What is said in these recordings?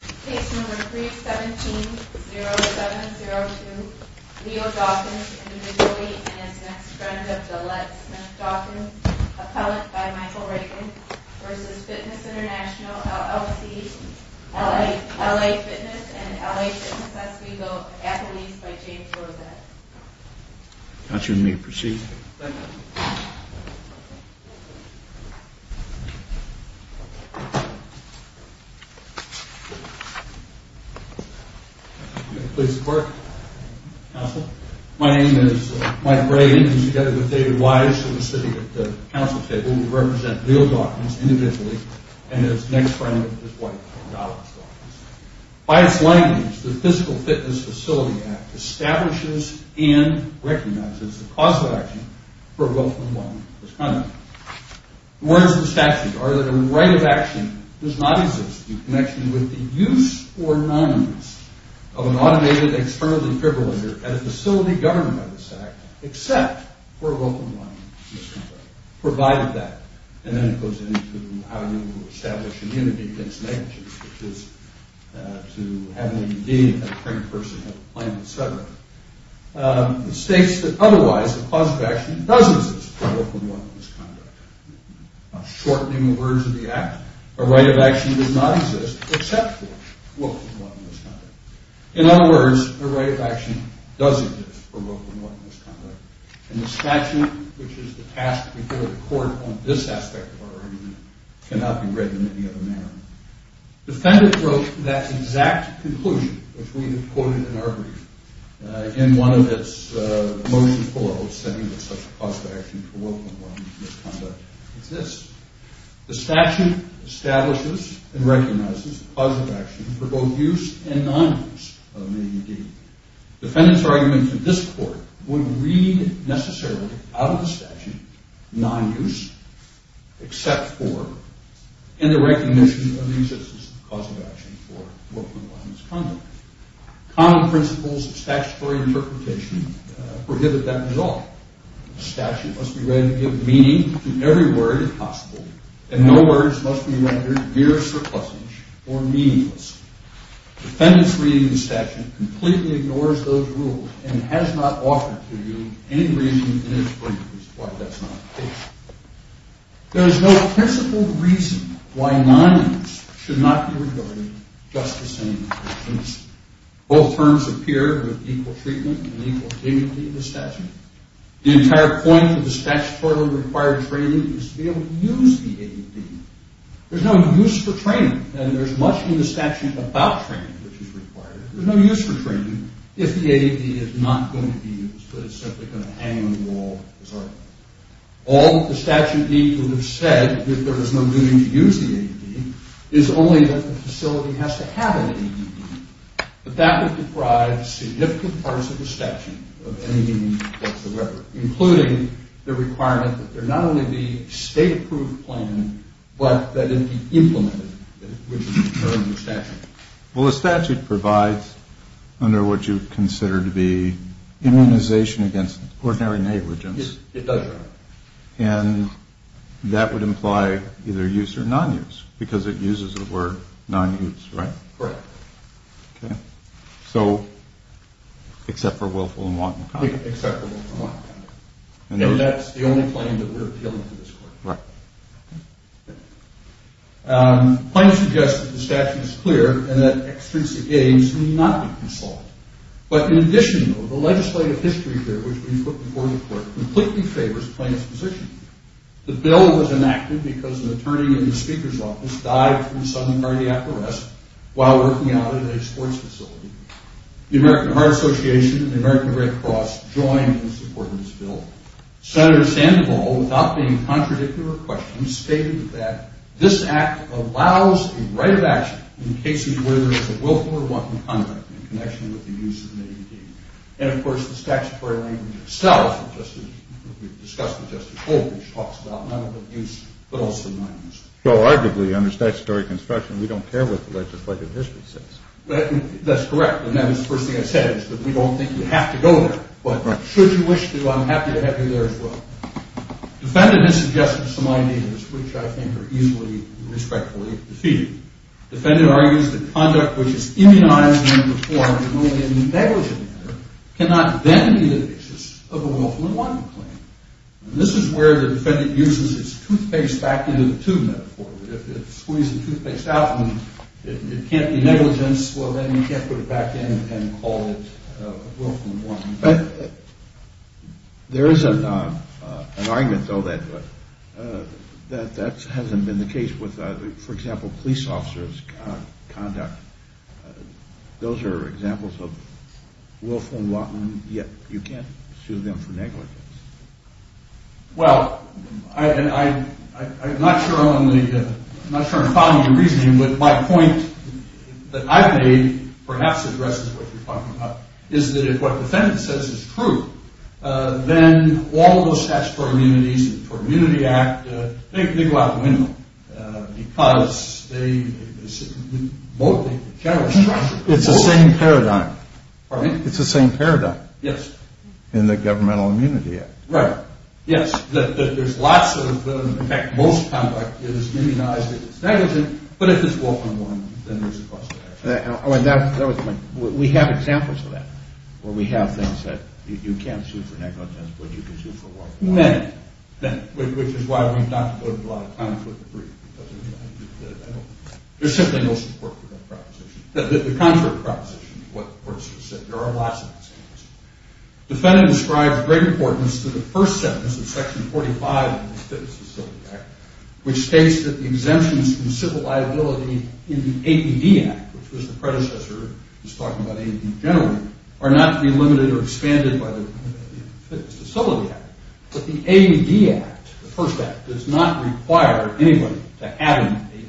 Case No. 3-17-0702, Leo Dawkins, individually, and his next friend of Gillette Smith-Dawkins, appellant by Michael Reagan, v. Fitness International, LLC, L.A. Fitness, and L.A. Fitness, as we go, athletes by James Rosette. Adjourned. May you proceed. Thank you. May I please report, counsel? My name is Mike Reagan, and together with David Wise, who is sitting at the counsel table, we represent Leo Dawkins, individually, and his next friend, his wife, Donna Dawkins. By its language, the Physical Fitness Facility Act establishes and recognizes the cause of action for a wealth and well-being misconduct. The words of the statute are that a right of action does not exist in connection with the use or non-use of an automated external defibrillator at a facility governed by this Act, except for a wealth and well-being misconduct, provided that, and then it goes into how you establish immunity against negligence, which is to have an ADD, have a printed person, have a plan, etc. It states that otherwise, a cause of action does exist for a wealth and well-being misconduct. Shortening the words of the Act, a right of action does not exist except for a wealth and well-being misconduct. In other words, a right of action does exist for a wealth and well-being misconduct. And the statute, which is the task before the court on this aspect of our argument, cannot be read in any other manner. The defendant wrote that exact conclusion, which we have quoted in our brief, in one of its motions below, stating that such a cause of action for wealth and well-being misconduct exists. The statute establishes and recognizes the cause of action for both use and non-use of an ADD. Defendants' arguments in this court would read, necessarily, out of the statute, non-use, except for, and the recognition of the existence of a cause of action for wealth and well-being misconduct. Common principles of statutory interpretation prohibit that at all. A statute must be read to give meaning to every word, if possible, and no words must be rendered mere surplusage or meaningless. Defendants' reading of the statute completely ignores those rules and has not offered to you any reason in its brief as to why that's not the case. There is no principled reason why non-use should not be regarded just the same as non-use. Both terms appear with equal treatment and equal dignity in the statute. The entire point of the statutory required training is to be able to use the ADD. There's no use for training, and there's much in the statute about training which is required. There's no use for training if the ADD is not going to be used, but it's simply going to hang on the wall as art. All that the statute needs to have said, that there is no need to use the ADD, is only that the facility has to have an ADD. But that would deprive significant parts of the statute of any meaning whatsoever, including the requirement that there not only be a state-approved plan, but that it be implemented, which is the term of the statute. Well, the statute provides under what you consider to be immunization against ordinary negligence. It does, Your Honor. And that would imply either use or non-use, because it uses the word non-use, right? Correct. Okay. So, except for Willful and Wanton County. And that's the only claim that we're appealing to this court. Right. The claim suggests that the statute is clear and that extrinsic aids need not be consulted. But in addition, though, the legislative history here, which we put before the court, completely favors the claim's position. The bill was enacted because an attorney in the Speaker's office died from a sudden cardiac arrest while working out at a sports facility. The American Heart Association and the American Red Cross joined in supporting this bill. Senator Sandoval, without being contradictory to her question, stated that this act allows a right of action in cases where there is a willful or wanton conduct in connection with the use of an AED. And, of course, the statutory language itself, as we've discussed with Justice Goldbridge, talks about non-use but also non-use. So, arguably, under statutory construction, we don't care what the legislative history says. That's correct. And that was the first thing I said, is that we don't think you have to go there. But should you wish to, I'm happy to have you there as well. Defendant has suggested some ideas which I think are easily and respectfully defeated. Defendant argues that conduct which is immunized in the form of only a negligent manner cannot then be the basis of a willful and wanton claim. And this is where the defendant uses his toothpaste back into the tube metaphor. If it's squeezing toothpaste out and it can't be negligence, well, then you can't put it back in and call it a willful and wanton claim. There is an argument, though, that that hasn't been the case with, for example, police officers' conduct. Those are examples of willful and wanton, yet you can't sue them for negligence. Well, I'm not sure I'm following your reasoning, but my point that I've made, perhaps addresses what you're talking about, is that if what defendant says is true, then all of those statutory immunities, the Immunity Act, they go out the window because they simply won't take the general structure. It's the same paradigm. Pardon me? It's the same paradigm. Yes. In the Governmental Immunity Act. Right. Yes. There's lots of them. In fact, most conduct is immunized if it's negligent, but if it's willful and wanton, then there's a cause for action. That was my point. We have examples of that, where we have things that you can't sue for negligence, but you can sue for willful and wanton, which is why we've not devoted a lot of time to the brief. There's simply no support for that proposition. The contrary proposition to what the courts have said. There are lots of examples. Defendant describes great importance to the first sentence of Section 45 of the Fitness Facility Act, which states that the exemptions from civil liability in the AED Act, which was the predecessor, was talking about AED generally, are not to be limited or expanded by the Fitness Facility Act, but the AED Act, the first act, does not require anybody to add an AED,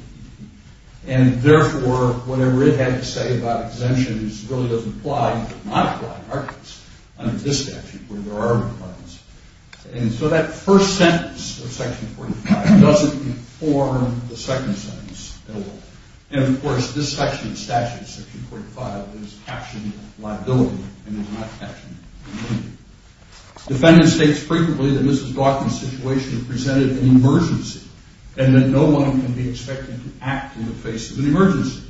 and therefore, whatever it had to say about exemptions really doesn't apply. It does not apply in our case under this statute, where there are requirements. And so that first sentence of Section 45 doesn't inform the second sentence at all. And, of course, this section of statute, Section 45, is captioned liability and is not captioned immunity. Defendant states frequently that Mrs. Daughton's situation is presented as an emergency and that no one can be expected to act in the face of an emergency.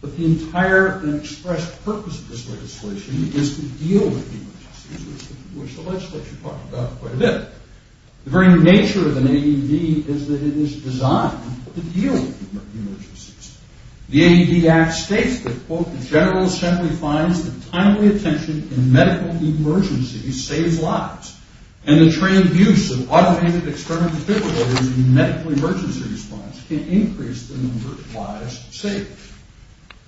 But the entire and expressed purpose of this legislation is to deal with emergencies, which the legislature talked about quite a bit. The very nature of an AED is that it is designed to deal with emergencies. The AED Act states that, quote, the General Assembly finds that timely attention in medical emergencies saves lives, and the trained use of automated external defibrillators in medical emergency response can increase the number of lives saved.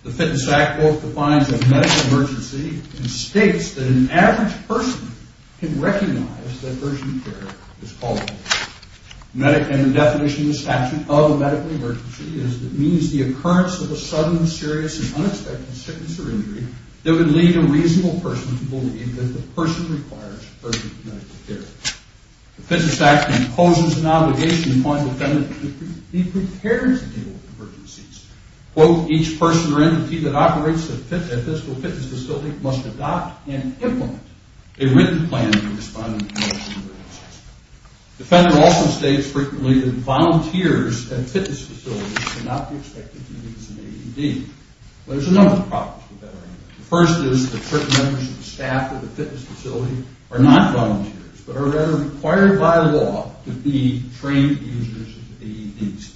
The Fitness Act, quote, defines a medical emergency and states that an average person can recognize that urgent care is called for. And the definition of the statute of a medical emergency is that it means the occurrence of a sudden, serious, and unexpected sickness or injury that would lead a reasonable person to believe that the person requires urgent medical care. The Fitness Act imposes an obligation upon defendants to be prepared to deal with emergencies. Quote, each person or entity that operates a physical fitness facility must adopt and implement a written plan in responding to medical emergencies. Defendant also states frequently that volunteers at fitness facilities should not be expected to use an AED. There's a number of problems with that argument. The first is that certain members of the staff at the fitness facility are not volunteers, but are rather required by law to be trained users of the AEDs.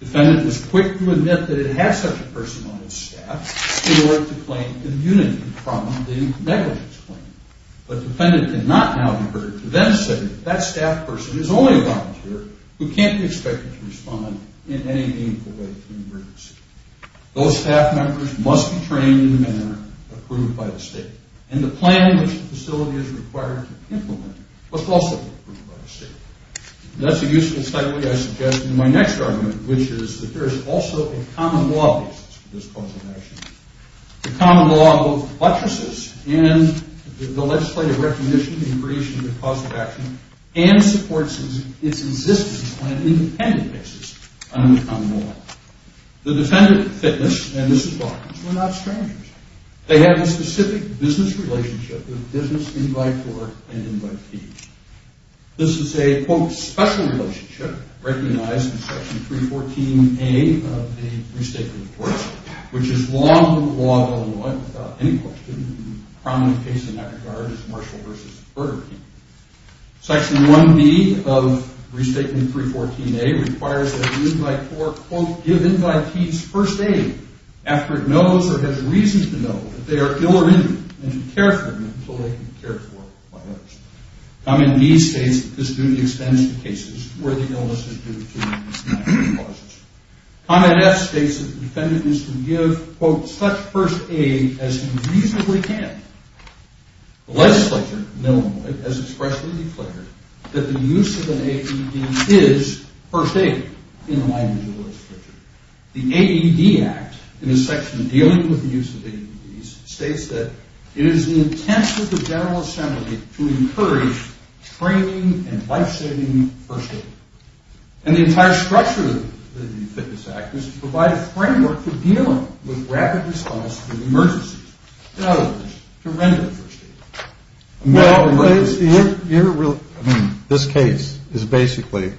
Defendant was quick to admit that it has such a person on its staff in order to claim immunity from the negligence claim. But defendant cannot now defer to then say that that staff person is only a volunteer who can't be expected to respond in any meaningful way to an emergency. Those staff members must be trained in a manner approved by the state, and the plan which the facility is required to implement must also be approved by the state. That's a useful segue, I suggest, to my next argument, which is that there is also a common law basis for this cause of action. The common law of lettresses and the legislative recognition and creation of the cause of action and supports its existence on an independent basis under the common law. The defendant at fitness, and this is Barnes, were not strangers. They have a specific business relationship with business invite-for and invite-to. This is a, quote, special relationship recognized in Section 314A of the Restatement Report, which is law under the law of Illinois without any question, and the prominent case in that regard is Marshall v. Burger King. Section 1B of Restatement 314A requires that the invite-for, quote, give invitees first aid after it knows or has reason to know that they are ill or injured and to care for them until they can be cared for by others. Comment B states that this duty extends to cases where the illness is due to medical causes. Comment F states that the defendant is to give, quote, such first aid as he reasonably can. The legislature, Illinois, has expressly declared that the use of an AED is first aid in the language of the legislature. The AED Act in its section dealing with the use of AEDs states that it is the intent of the General Assembly to encourage training and life-saving first aid, and the entire structure of the fitness act is to provide a framework for dealing with rapid response to emergencies. In other words, to render first aid. Well, you're really – I mean, this case is basically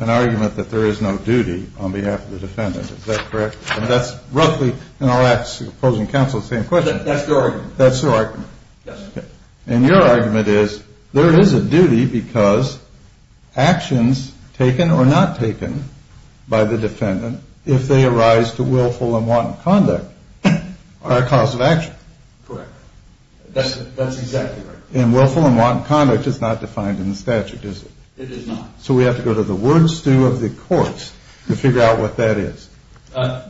an argument that there is no duty on behalf of the defendant. Is that correct? And that's roughly – and I'll ask opposing counsel the same question. That's their argument. That's their argument. Yes. And your argument is there is a duty because actions taken or not taken by the defendant, if they arise to willful and wanton conduct, are a cause of action. Correct. That's exactly right. And willful and wanton conduct is not defined in the statute, is it? It is not. So we have to go to the word stew of the courts to figure out what that is.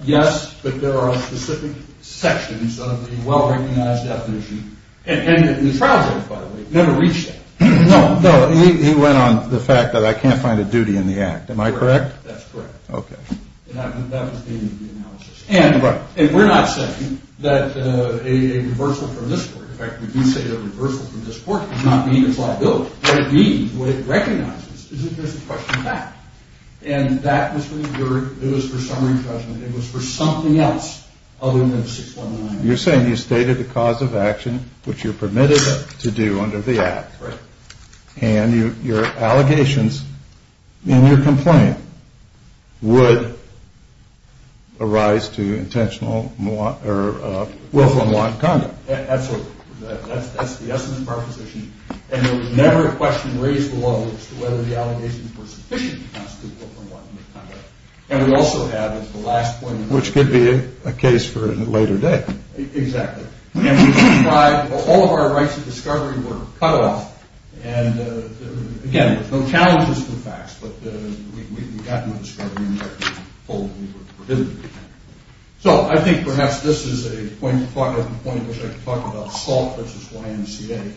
Yes, but there are specific sections of the well-recognized definition. And the trial judge, by the way, never reached that. No, no. He went on the fact that I can't find a duty in the act. Am I correct? That's correct. Okay. And that was the end of the analysis. And we're not saying that a reversal from this court – in fact, we do say a reversal from this court does not mean it's liable. What it means, what it recognizes, is that there's a question of fact. And that was for the jury, it was for summary judgment, it was for something else other than 619. You're saying you stated the cause of action, which you're permitted to do under the act. Correct. And your allegations and your complaint would arise to intentional willful and wanton conduct. Absolutely. That's the essence of our position. And there was never a question raised to whether the allegations were sufficient to constitute willful and wanton conduct. And we also have, as the last point – Which could be a case for a later date. Exactly. All of our rights of discovery were cut off. And, again, no challenges to the facts, but we got no discovery and were told we were prohibited. So, I think perhaps this is a point at which I could talk about Salt v. YMCA,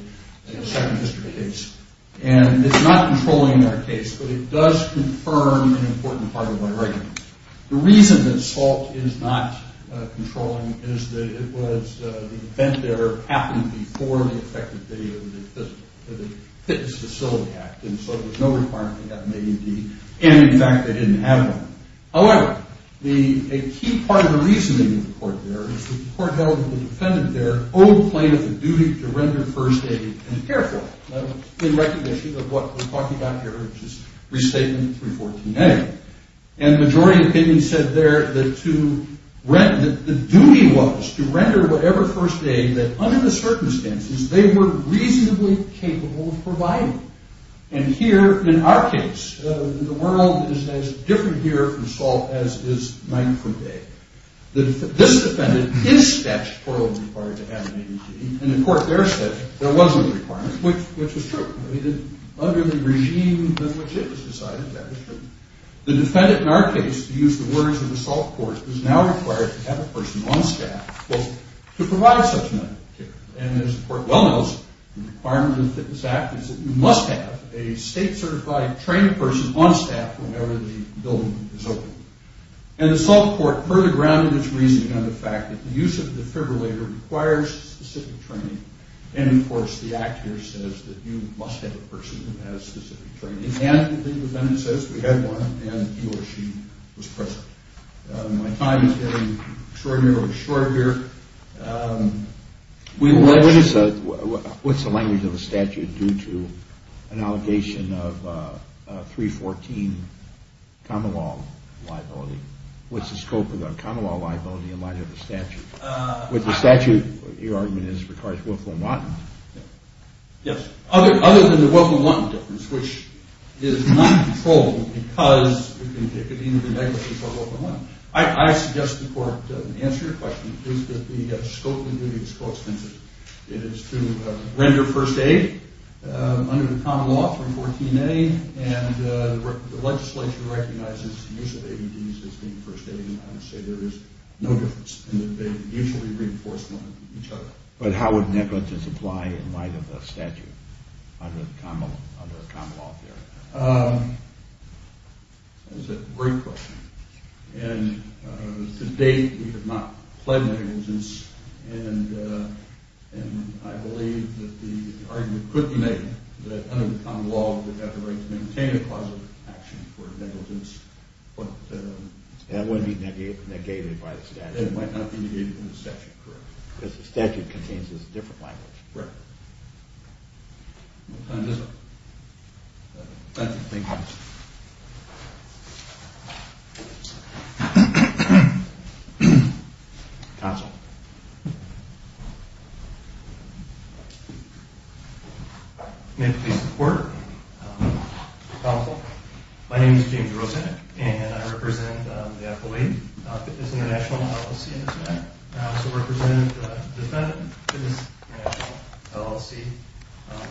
a Second History case. And it's not controlling our case, but it does confirm an important part of my argument. The reason that Salt is not controlling is that the event there happened before the effect of the Fitness Facility Act. And so there's no requirement to have an AED. And, in fact, they didn't have one. However, a key part of the reasoning of the court there is the court held that the defendant there owed plaintiff the duty to render first aid and care for it. In recognition of what we're talking about here, which is Restatement 314A. And the majority opinion said there that the duty was to render whatever first aid that, under the circumstances, they were reasonably capable of providing. And here, in our case, the world is as different here from Salt as is night from day. This defendant is statutorily required to have an AED. And the court there said there was no requirement, which was true. Under the regime in which it was decided, that was true. The defendant, in our case, to use the words of the Salt court, is now required to have a person on staff, quote, to provide such medical care. And, as the court well knows, the requirement of the Fitness Act is that you must have a state-certified trained person on staff whenever the building is open. And the Salt court further grounded its reasoning on the fact that the use of the defibrillator requires specific training. And, of course, the Act here says that you must have a person who has specific training. And, the defendant says, we had one, and he or she was present. My time is getting extraordinarily shorter here. What's the language of the statute due to an allegation of 314 common law liability? What's the scope of the common law liability in light of the statute? With the statute, your argument is it requires willful and wanton. Yes. Other than the willful and wanton difference, which is not controlled because it could either be negligence or willful and wanton. I suggest to the court, to answer your question, is that the scope of the duty is coextensive. It is to render first aid under the common law, 314A. And the legislature recognizes the use of AEDs as being first aid. I would say there is no difference. And they usually reinforce one with each other. But how would negligence apply in light of the statute under the common law theory? That's a great question. And to date, we have not pled negligence. And I believe that the argument could be made that under the common law, we have the right to maintain a clause of action for negligence. That wouldn't be negated by the statute. It might not be negated by the statute, correct. Because the statute contains a different language. Right. No, it doesn't. Thank you. Counsel. May I please report? Counsel. My name is James Rosenick. And I represent the FOA. It's an international LLC in this matter. And I also represent the defendant. It is an international LLC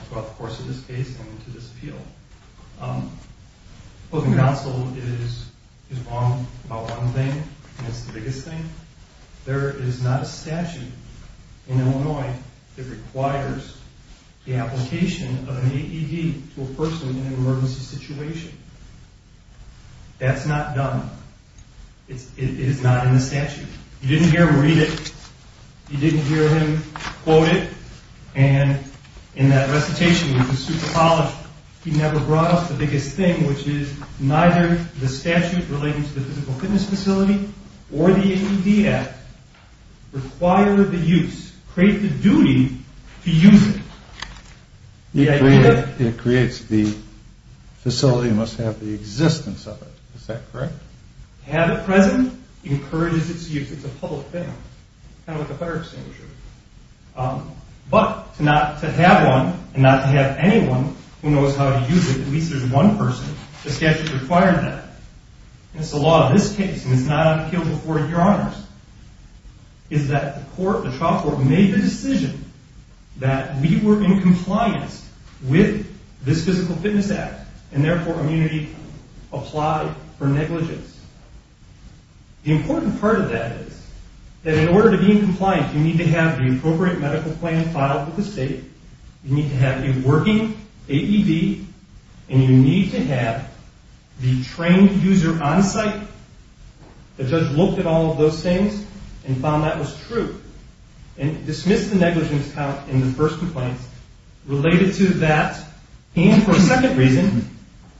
throughout the course of this case and into this appeal. Well, the counsel is wrong about one thing. And it's the biggest thing. There is not a statute in Illinois that requires the application of an AED to a person in an emergency situation. That's not done. It is not in the statute. You didn't hear him read it. You didn't hear him quote it. And in that recitation, he never brought up the biggest thing, which is neither the statute relating to the physical fitness facility or the AED Act require the use, create the duty to use it. It creates the facility must have the existence of it. Is that correct? Have it present, encourages its use. It's a public thing. Kind of like a fire extinguisher. But to not to have one and not to have anyone who knows how to use it, at least there's one person, the statute requires that. And it's the law of this case, and it's not on the appeal before your honors, is that the court, the trial court, made the decision that we were in compliance with this physical fitness act. And therefore, immunity applied for negligence. The important part of that is that in order to be in compliance, you need to have the appropriate medical plan filed with the state. You need to have a working AED, and you need to have the trained user on site. The judge looked at all of those things and found that was true and dismissed the negligence count in the first complaint related to that. And for a second reason,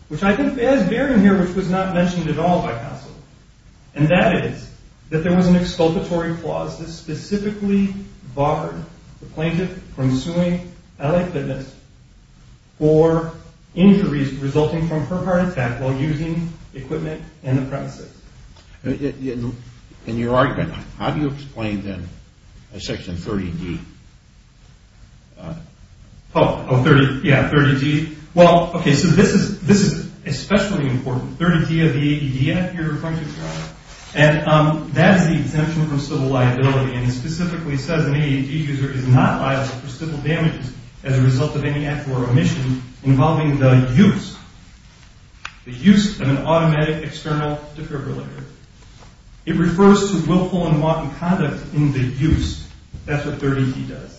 which I think has bearing here, which was not mentioned at all by counsel. And that is that there was an exculpatory clause that specifically barred the plaintiff from suing L.A. Fitness for injuries resulting from her heart attack while using equipment in the premises. In your argument, how do you explain then Section 30D? Oh, yeah, 30D. Well, okay, so this is especially important. 30D of the AED Act you're going to try, and that is the exemption from civil liability. And it specifically says an AED user is not liable for civil damages as a result of any act or omission involving the use, the use of an automatic external defibrillator. It refers to willful and wanton conduct in the use. That's what 30D does.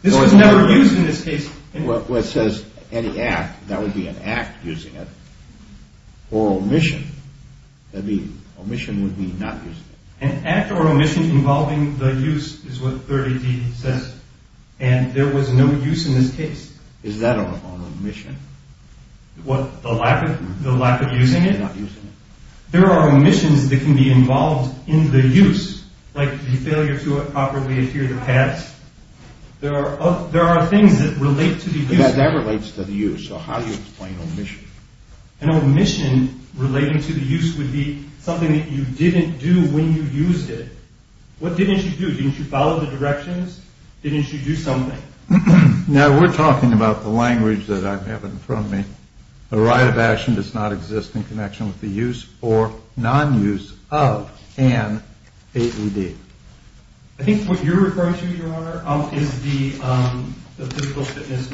This was never used in this case. What says any act, that would be an act using it, or omission. That would be, omission would be not using it. An act or omission involving the use is what 30D says. And there was no use in this case. Is that an omission? What, the lack of using it? There are omissions that can be involved in the use. Like the failure to properly adhere to PADS. There are things that relate to the use. Yeah, that relates to the use. So how do you explain omission? An omission relating to the use would be something that you didn't do when you used it. What didn't you do? Didn't you follow the directions? Didn't you do something? Now, we're talking about the language that I have in front of me. A right of action does not exist in connection with the use or non-use of an AED. I think what you're referring to, Your Honor, is the Physical Fitness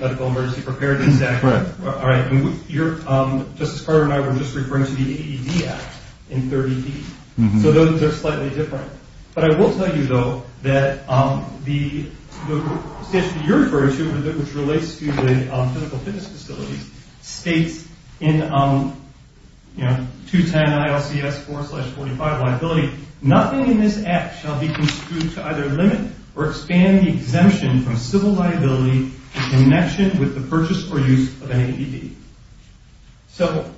Medical Emergency Preparedness Act. Right. All right. Justice Carter and I were just referring to the AED Act in 30D. So those are slightly different. But I will tell you, though, that the statute that you're referring to, which relates to the physical fitness facilities, states in 210 ILCS 4-45 liability, nothing in this act shall be construed to either limit or expand the exemption from civil liability in connection with the purchase or use of an AED. So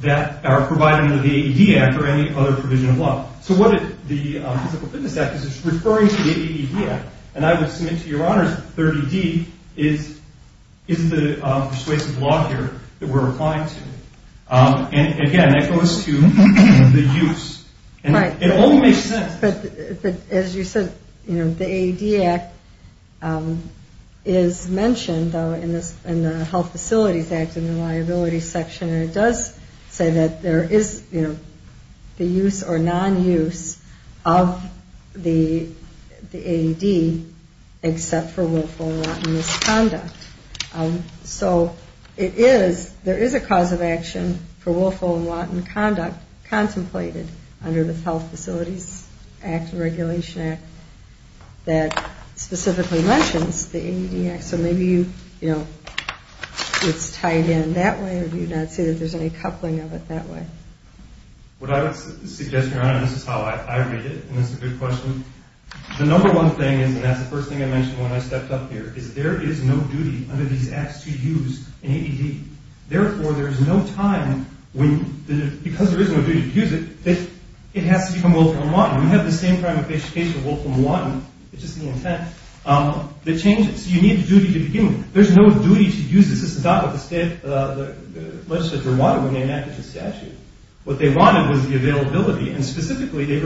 that our providing of the AED Act or any other provision of law. So what the Physical Fitness Act is, it's referring to the AED Act. And I would submit to Your Honor that 30D is the persuasive law here that we're applying to. And, again, that goes to the use. Right. It only makes sense. But as you said, the AED Act is mentioned, though, in the Health Facilities Act in the liability section. And it does say that there is the use or non-use of the AED except for willful and wanton misconduct. So it is, there is a cause of action for willful and wanton conduct contemplated under the Health Facilities Act and Regulation Act that specifically mentions the AED Act. So maybe you, you know, it's tied in that way or do you not see that there's any coupling of it that way? What I would suggest, Your Honor, and this is how I read it, and it's a good question. The number one thing is, and that's the first thing I mentioned when I stepped up here, is there is no duty under these acts to use an AED. Therefore, there is no time when, because there is no duty to use it, it has to become willful and wanton. We have the same kind of application of willful and wanton, it's just the intent, that changes. You need the duty to begin with. There's no duty to use this. This is not what the legislature wanted when they enacted the statute. What they wanted was the availability, and specifically they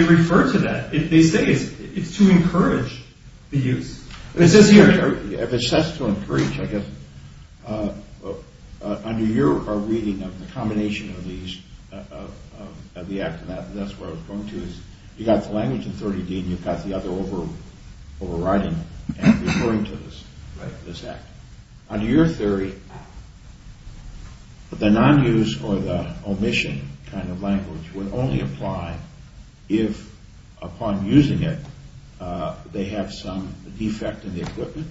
refer to that. They say it's to encourage the use. It says here, if it says to encourage, I guess, under your reading of the combination of these, of the act and that, that's where I was going to, is you've got the language authority deed and you've got the other overriding and referring to this act. Under your theory, the non-use or the omission kind of language would only apply if, upon using it, they have some defect in the equipment,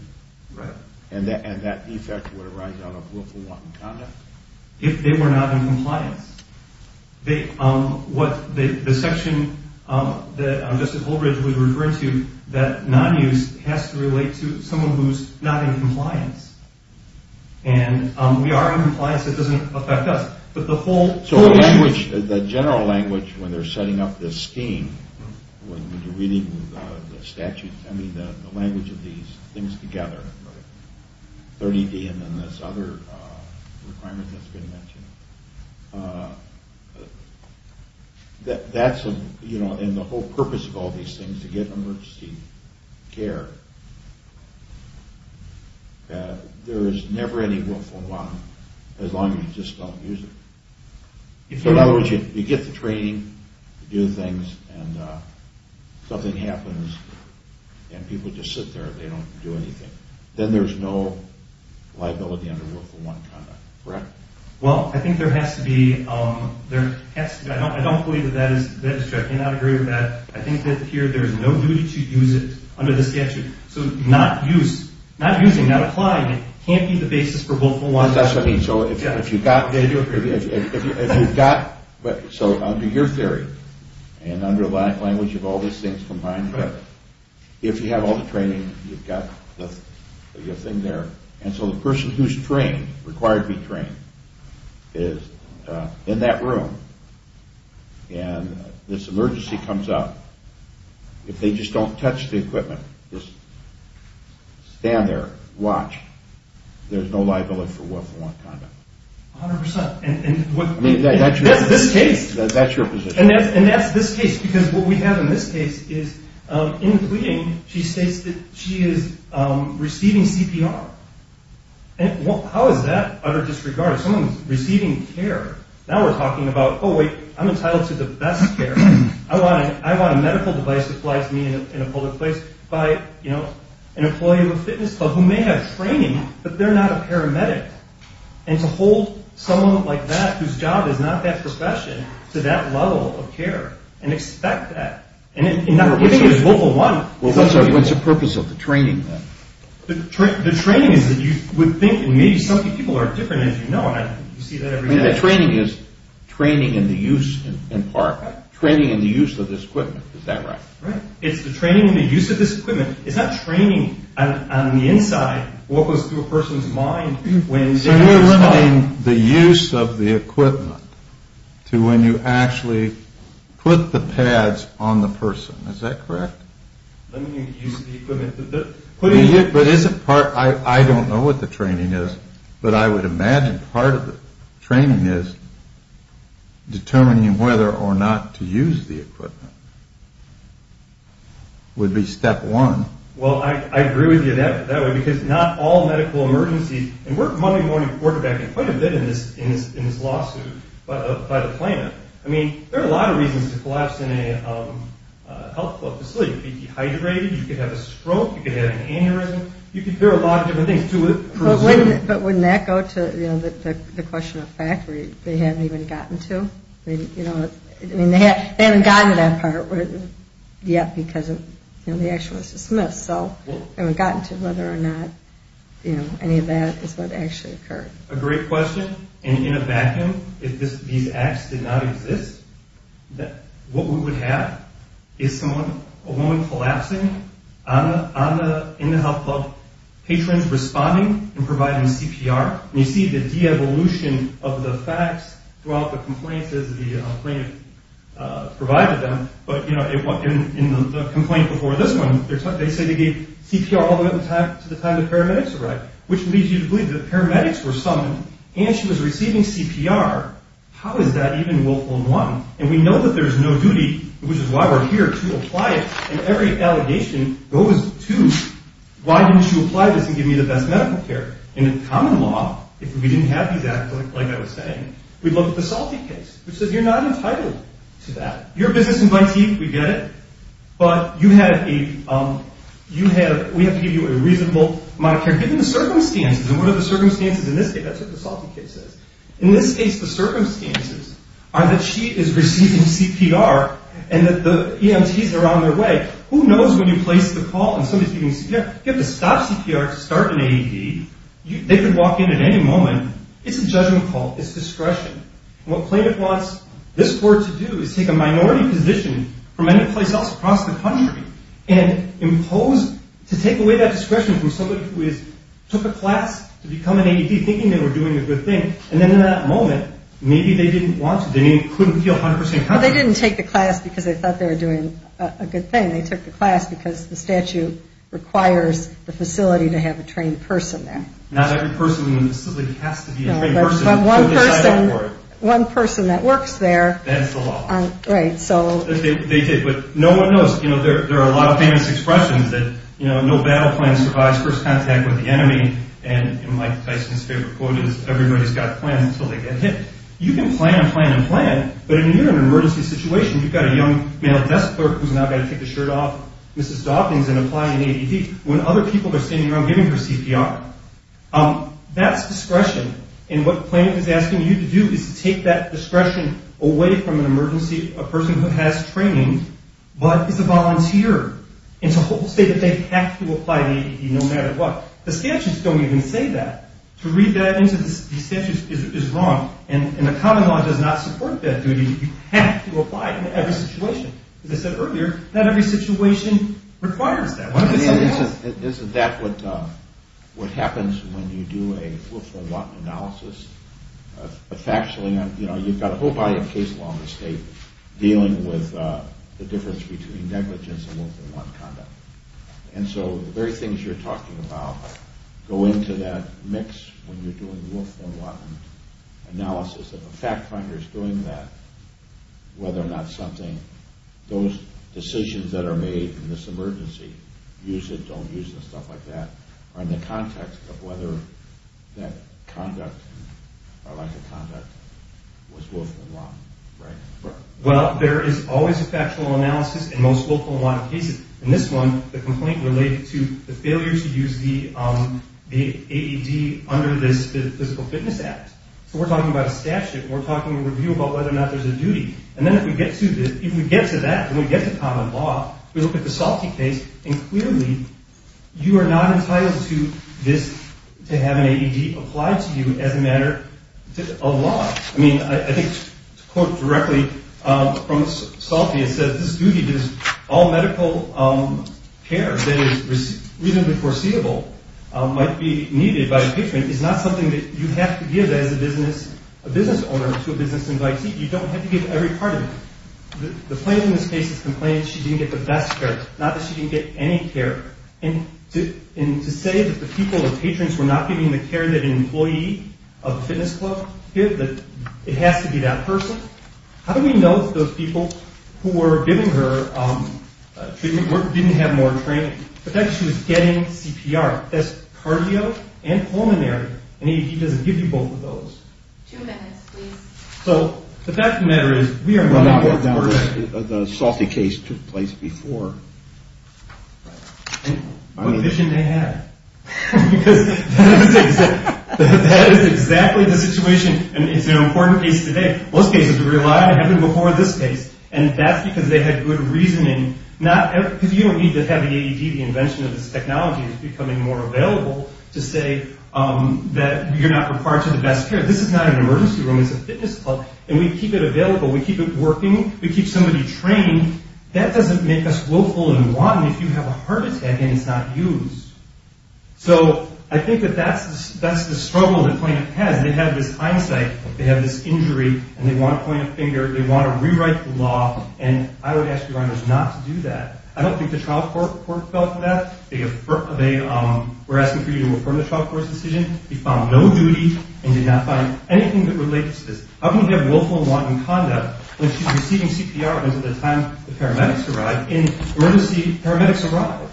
and that defect would arise out of willful, wanton conduct? If they were not in compliance. The section that Justice Holdridge was referring to, that non-use has to relate to someone who's not in compliance. And we are in compliance, it doesn't affect us. So the general language when they're setting up this scheme, when you're reading the statute, I mean the language of these things together, 30D and then this other requirement that's been mentioned, that's, you know, and the whole purpose of all these things to get emergency care, there is never any willful wanton, as long as you just don't use it. So in other words, you get the training, you do things, and something happens, and people just sit there, they don't do anything. Then there's no liability under willful wanton conduct, correct? Well, I think there has to be, I don't believe that that is true. I cannot agree with that. I think that here there is no duty to use it under the statute. So not use, not using, not applying, can't be the basis for willful wanton conduct. So if you've got, so under your theory, and under the language of all these things combined, if you have all the training, you've got the thing there, and so the person who's trained, required to be trained, is in that room, and this emergency comes up, if they just don't touch the equipment, just stand there, watch, there's no liability for willful wanton conduct. A hundred percent. I mean, that's your position. And that's this case, because what we have in this case is, in the pleading, she states that she is receiving CPR. How is that utter disregard? Someone's receiving care. Now we're talking about, oh wait, I'm entitled to the best care. I want a medical device to fly to me in a public place by, you know, an employee of a fitness club who may have training, but they're not a paramedic. And to hold someone like that, whose job is not that profession, to that level of care, and expect that. And not giving is willful wanton. What's the purpose of the training then? The training is that you would think, and maybe some people are different, as you know, and you see that every day. The training is training in the use in part. Training in the use of this equipment. Is that right? Right. It's the training in the use of this equipment. It's not training on the inside what goes through a person's mind. So you're limiting the use of the equipment to when you actually put the pads on the person. Is that correct? Limiting the use of the equipment. But isn't part, I don't know what the training is, but I would imagine part of the training is determining whether or not to use the equipment. Would be step one. Well, I agree with you that way, because not all medical emergencies, and we're Monday morning quarterbacking quite a bit in this lawsuit by the planet. I mean, there are a lot of reasons to collapse in a health club facility. You could be dehydrated. You could have a stroke. You could have an aneurysm. There are a lot of different things to presume. But wouldn't that go to the question of fact where they haven't even gotten to? I mean, they haven't gotten to that part yet because the action was dismissed. So they haven't gotten to whether or not any of that is what actually occurred. A great question. And in a vacuum, if these acts did not exist, what we would have is a woman collapsing in the health club, patrons responding and providing CPR. And you see the de-evolution of the facts throughout the complaints as the plaintiff provided them. But in the complaint before this one, they say they gave CPR all the way up to the time the paramedics arrived, which leads you to believe that the paramedics were summoned and she was receiving CPR. How is that even willful and one? And we know that there's no duty, which is why we're here, to apply it. And every allegation goes to, why didn't you apply this and give me the best medical care? In common law, if we didn't have these acts, like I was saying, we'd look at the Salty case, which says you're not entitled to that. You're a business invitee. We get it. But we have to give you a reasonable amount of care, given the circumstances. And what are the circumstances in this case? That's what the Salty case says. In this case, the circumstances are that she is receiving CPR and that the EMTs are on their way. Who knows when you place the call and somebody's giving CPR? You have to stop CPR to start an AED. They could walk in at any moment. It's a judgment call. It's discretion. And what plaintiff wants this court to do is take a minority position from any place else across the country and impose to take away that discretion from somebody who took a class to become an AED, thinking they were doing a good thing. And then in that moment, maybe they didn't want to. They couldn't feel 100 percent confident. Well, they didn't take the class because they thought they were doing a good thing. They took the class because the statute requires the facility to have a trained person there. Not every person in the facility has to be a trained person. But one person that works there. That's the law. Right. They did. But no one knows. There are a lot of famous expressions that no battle plan survives first contact with the enemy. And Mike Tyson's favorite quote is, everybody's got plans until they get hit. You can plan and plan and plan, but in an emergency situation, you've got a young male desk clerk who's now got to take the shirt off Mrs. Dawkins and apply an AED, when other people are standing around giving her CPR. That's discretion. And what plaintiff is asking you to do is to take that discretion away from an emergency, a person who has training but is a volunteer, and to say that they have to apply an AED no matter what. The statutes don't even say that. To read that into the statutes is wrong. And the common law does not support that duty. You have to apply it in every situation. As I said earlier, not every situation requires that. Isn't that what happens when you do a four-for-one analysis? Factually, you've got a whole body of case law in this state dealing with the difference between negligence and four-for-one conduct. And so the very things you're talking about go into that mix when you're doing a four-for-one analysis. If a fact finder is doing that, whether or not something, those decisions that are made in this emergency, use it, don't use it, stuff like that, are in the context of whether that conduct or lack of conduct was four-for-one, right? Well, there is always a factual analysis in most four-for-one cases. In this one, the complaint related to the failure to use the AED under this physical fitness act. So we're talking about a statute. We're talking in review about whether or not there's a duty. And then if we get to that, if we get to common law, we look at the Salty case, and clearly, you are not entitled to have an AED applied to you as a matter of law. I mean, I think to quote directly from Salty, it says, this duty to all medical care that is reasonably foreseeable might be needed by a patron. It's not something that you have to give as a business owner to a business invitee. You don't have to give every part of it. The plaintiff in this case has complained that she didn't get the best care, not that she didn't get any care. And to say that the people, the patrons, were not giving the care that an employee of the fitness club give, that it has to be that person, how do we know that those people who were giving her treatment didn't have more training? The fact is she was getting CPR. That's cardio and pulmonary. An AED doesn't give you both of those. Two minutes, please. So the fact of the matter is, we are not that person. The Salty case took place before. Right. And what a vision they had. Because that is exactly the situation, and it's an important case today. Most cases are real life. It happened before this case. And that's because they had good reasoning. Because you don't need to have the AED. The invention of this technology is becoming more available to say that you're not required to the best care. This is not an emergency room. It's a fitness club. And we keep it available. We keep it working. We keep somebody trained. That doesn't make us willful and wanton if you have a heart attack and it's not used. So I think that that's the struggle the plaintiff has. They have this hindsight. They have this injury. And they want to point a finger. They want to rewrite the law. And I would ask your honors not to do that. I don't think the trial court fell for that. They were asking for you to affirm the trial court's decision. You found no duty and did not find anything that relates to this. How can you have willful and wanton conduct when she's receiving CPR until the time the paramedics arrive? In an emergency, paramedics arrive.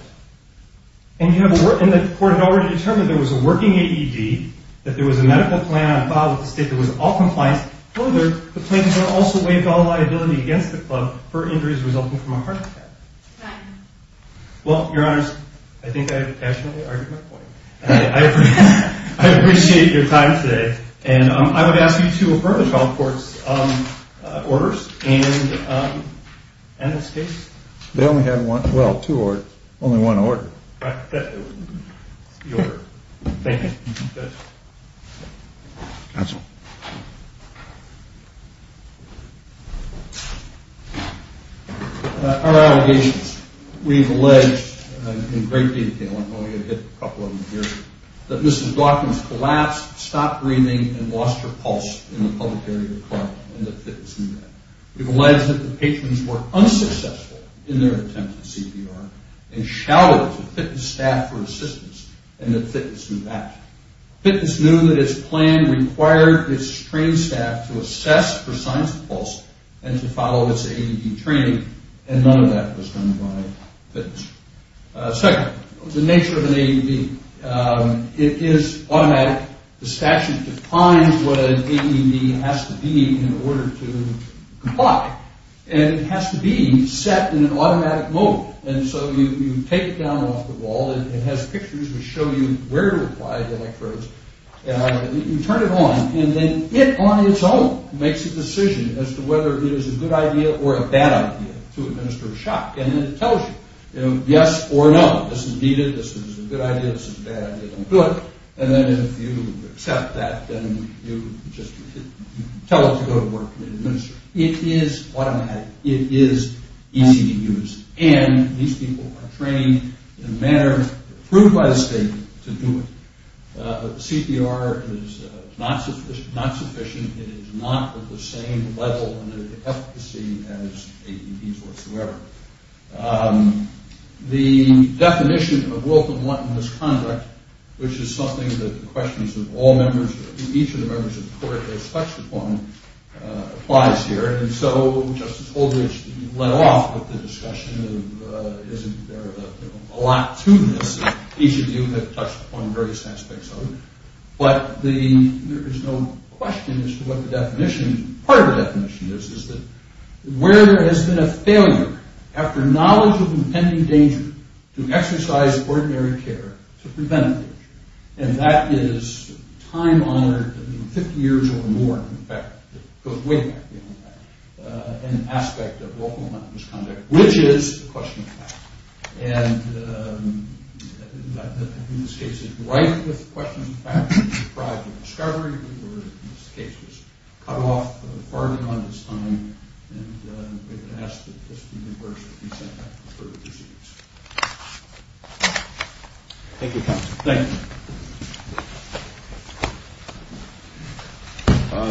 And the court had already determined there was a working AED, that there was a medical plan on file with the state that was all compliance. Further, the plaintiff also waived all liability against the club for injuries resulting from a heart attack. Well, your honors, I think I've actually argued my point. I appreciate your time today. And I would ask you to affirm the trial court's orders and this case. They only have one or two orders. Only one order. Right. That's the order. Thank you. Counsel. Our allegations. We've alleged in great detail, I'm only going to hit a couple of them here, that Mrs. Dawkins collapsed, stopped breathing, and lost her pulse in the public area of the club in the fitness unit. We've alleged that the patients were unsuccessful in their attempts at CPR and shouted to fitness staff for assistance, and that fitness knew that. Fitness knew that its plan required its trained staff to assess for signs of pulse and to follow its AED training, and none of that was done by fitness. Second, the nature of an AED. It is automatic. The statute defines what an AED has to be in order to comply. And it has to be set in an automatic mode. And so you take it down off the wall. It has pictures which show you where to apply the electrodes. You turn it on, and then it on its own makes a decision as to whether it is a good idea or a bad idea to administer a shock. And it tells you, you know, yes or no. This is needed. This is a good idea. This is a bad idea. Don't do it. And then if you accept that, then you just tell it to go to work and administer. It is automatic. It is easy to use. And these people are trained in a manner approved by the state to do it. CPR is not sufficient. It is not at the same level and efficacy as AEDs whatsoever. The definition of willful and wanton misconduct, which is something that the questions of all members, each of the members of the court expects upon, applies here. And so Justice Aldrich led off with the discussion of isn't there a lot to this. Each of you have touched upon various aspects of it. But there is no question as to what the definition, part of the definition is, is that where there has been a failure after knowledge of impending danger to exercise ordinary care to prevent a danger. And that is time-honored, 50 years or more, in fact. It goes way back beyond that. An aspect of willful and wanton misconduct, which is the question of fact. And in this case, it is right with the question of fact. We were deprived of discovery. We were, in this case, just cut off far beyond its time. And we've been asked that just the members be sent back to further proceedings. Thank you, counsel. Thank you.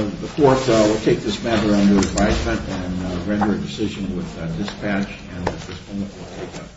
The court will take this matter under advisement and render a decision with dispatch. And at this moment, we'll take a short break.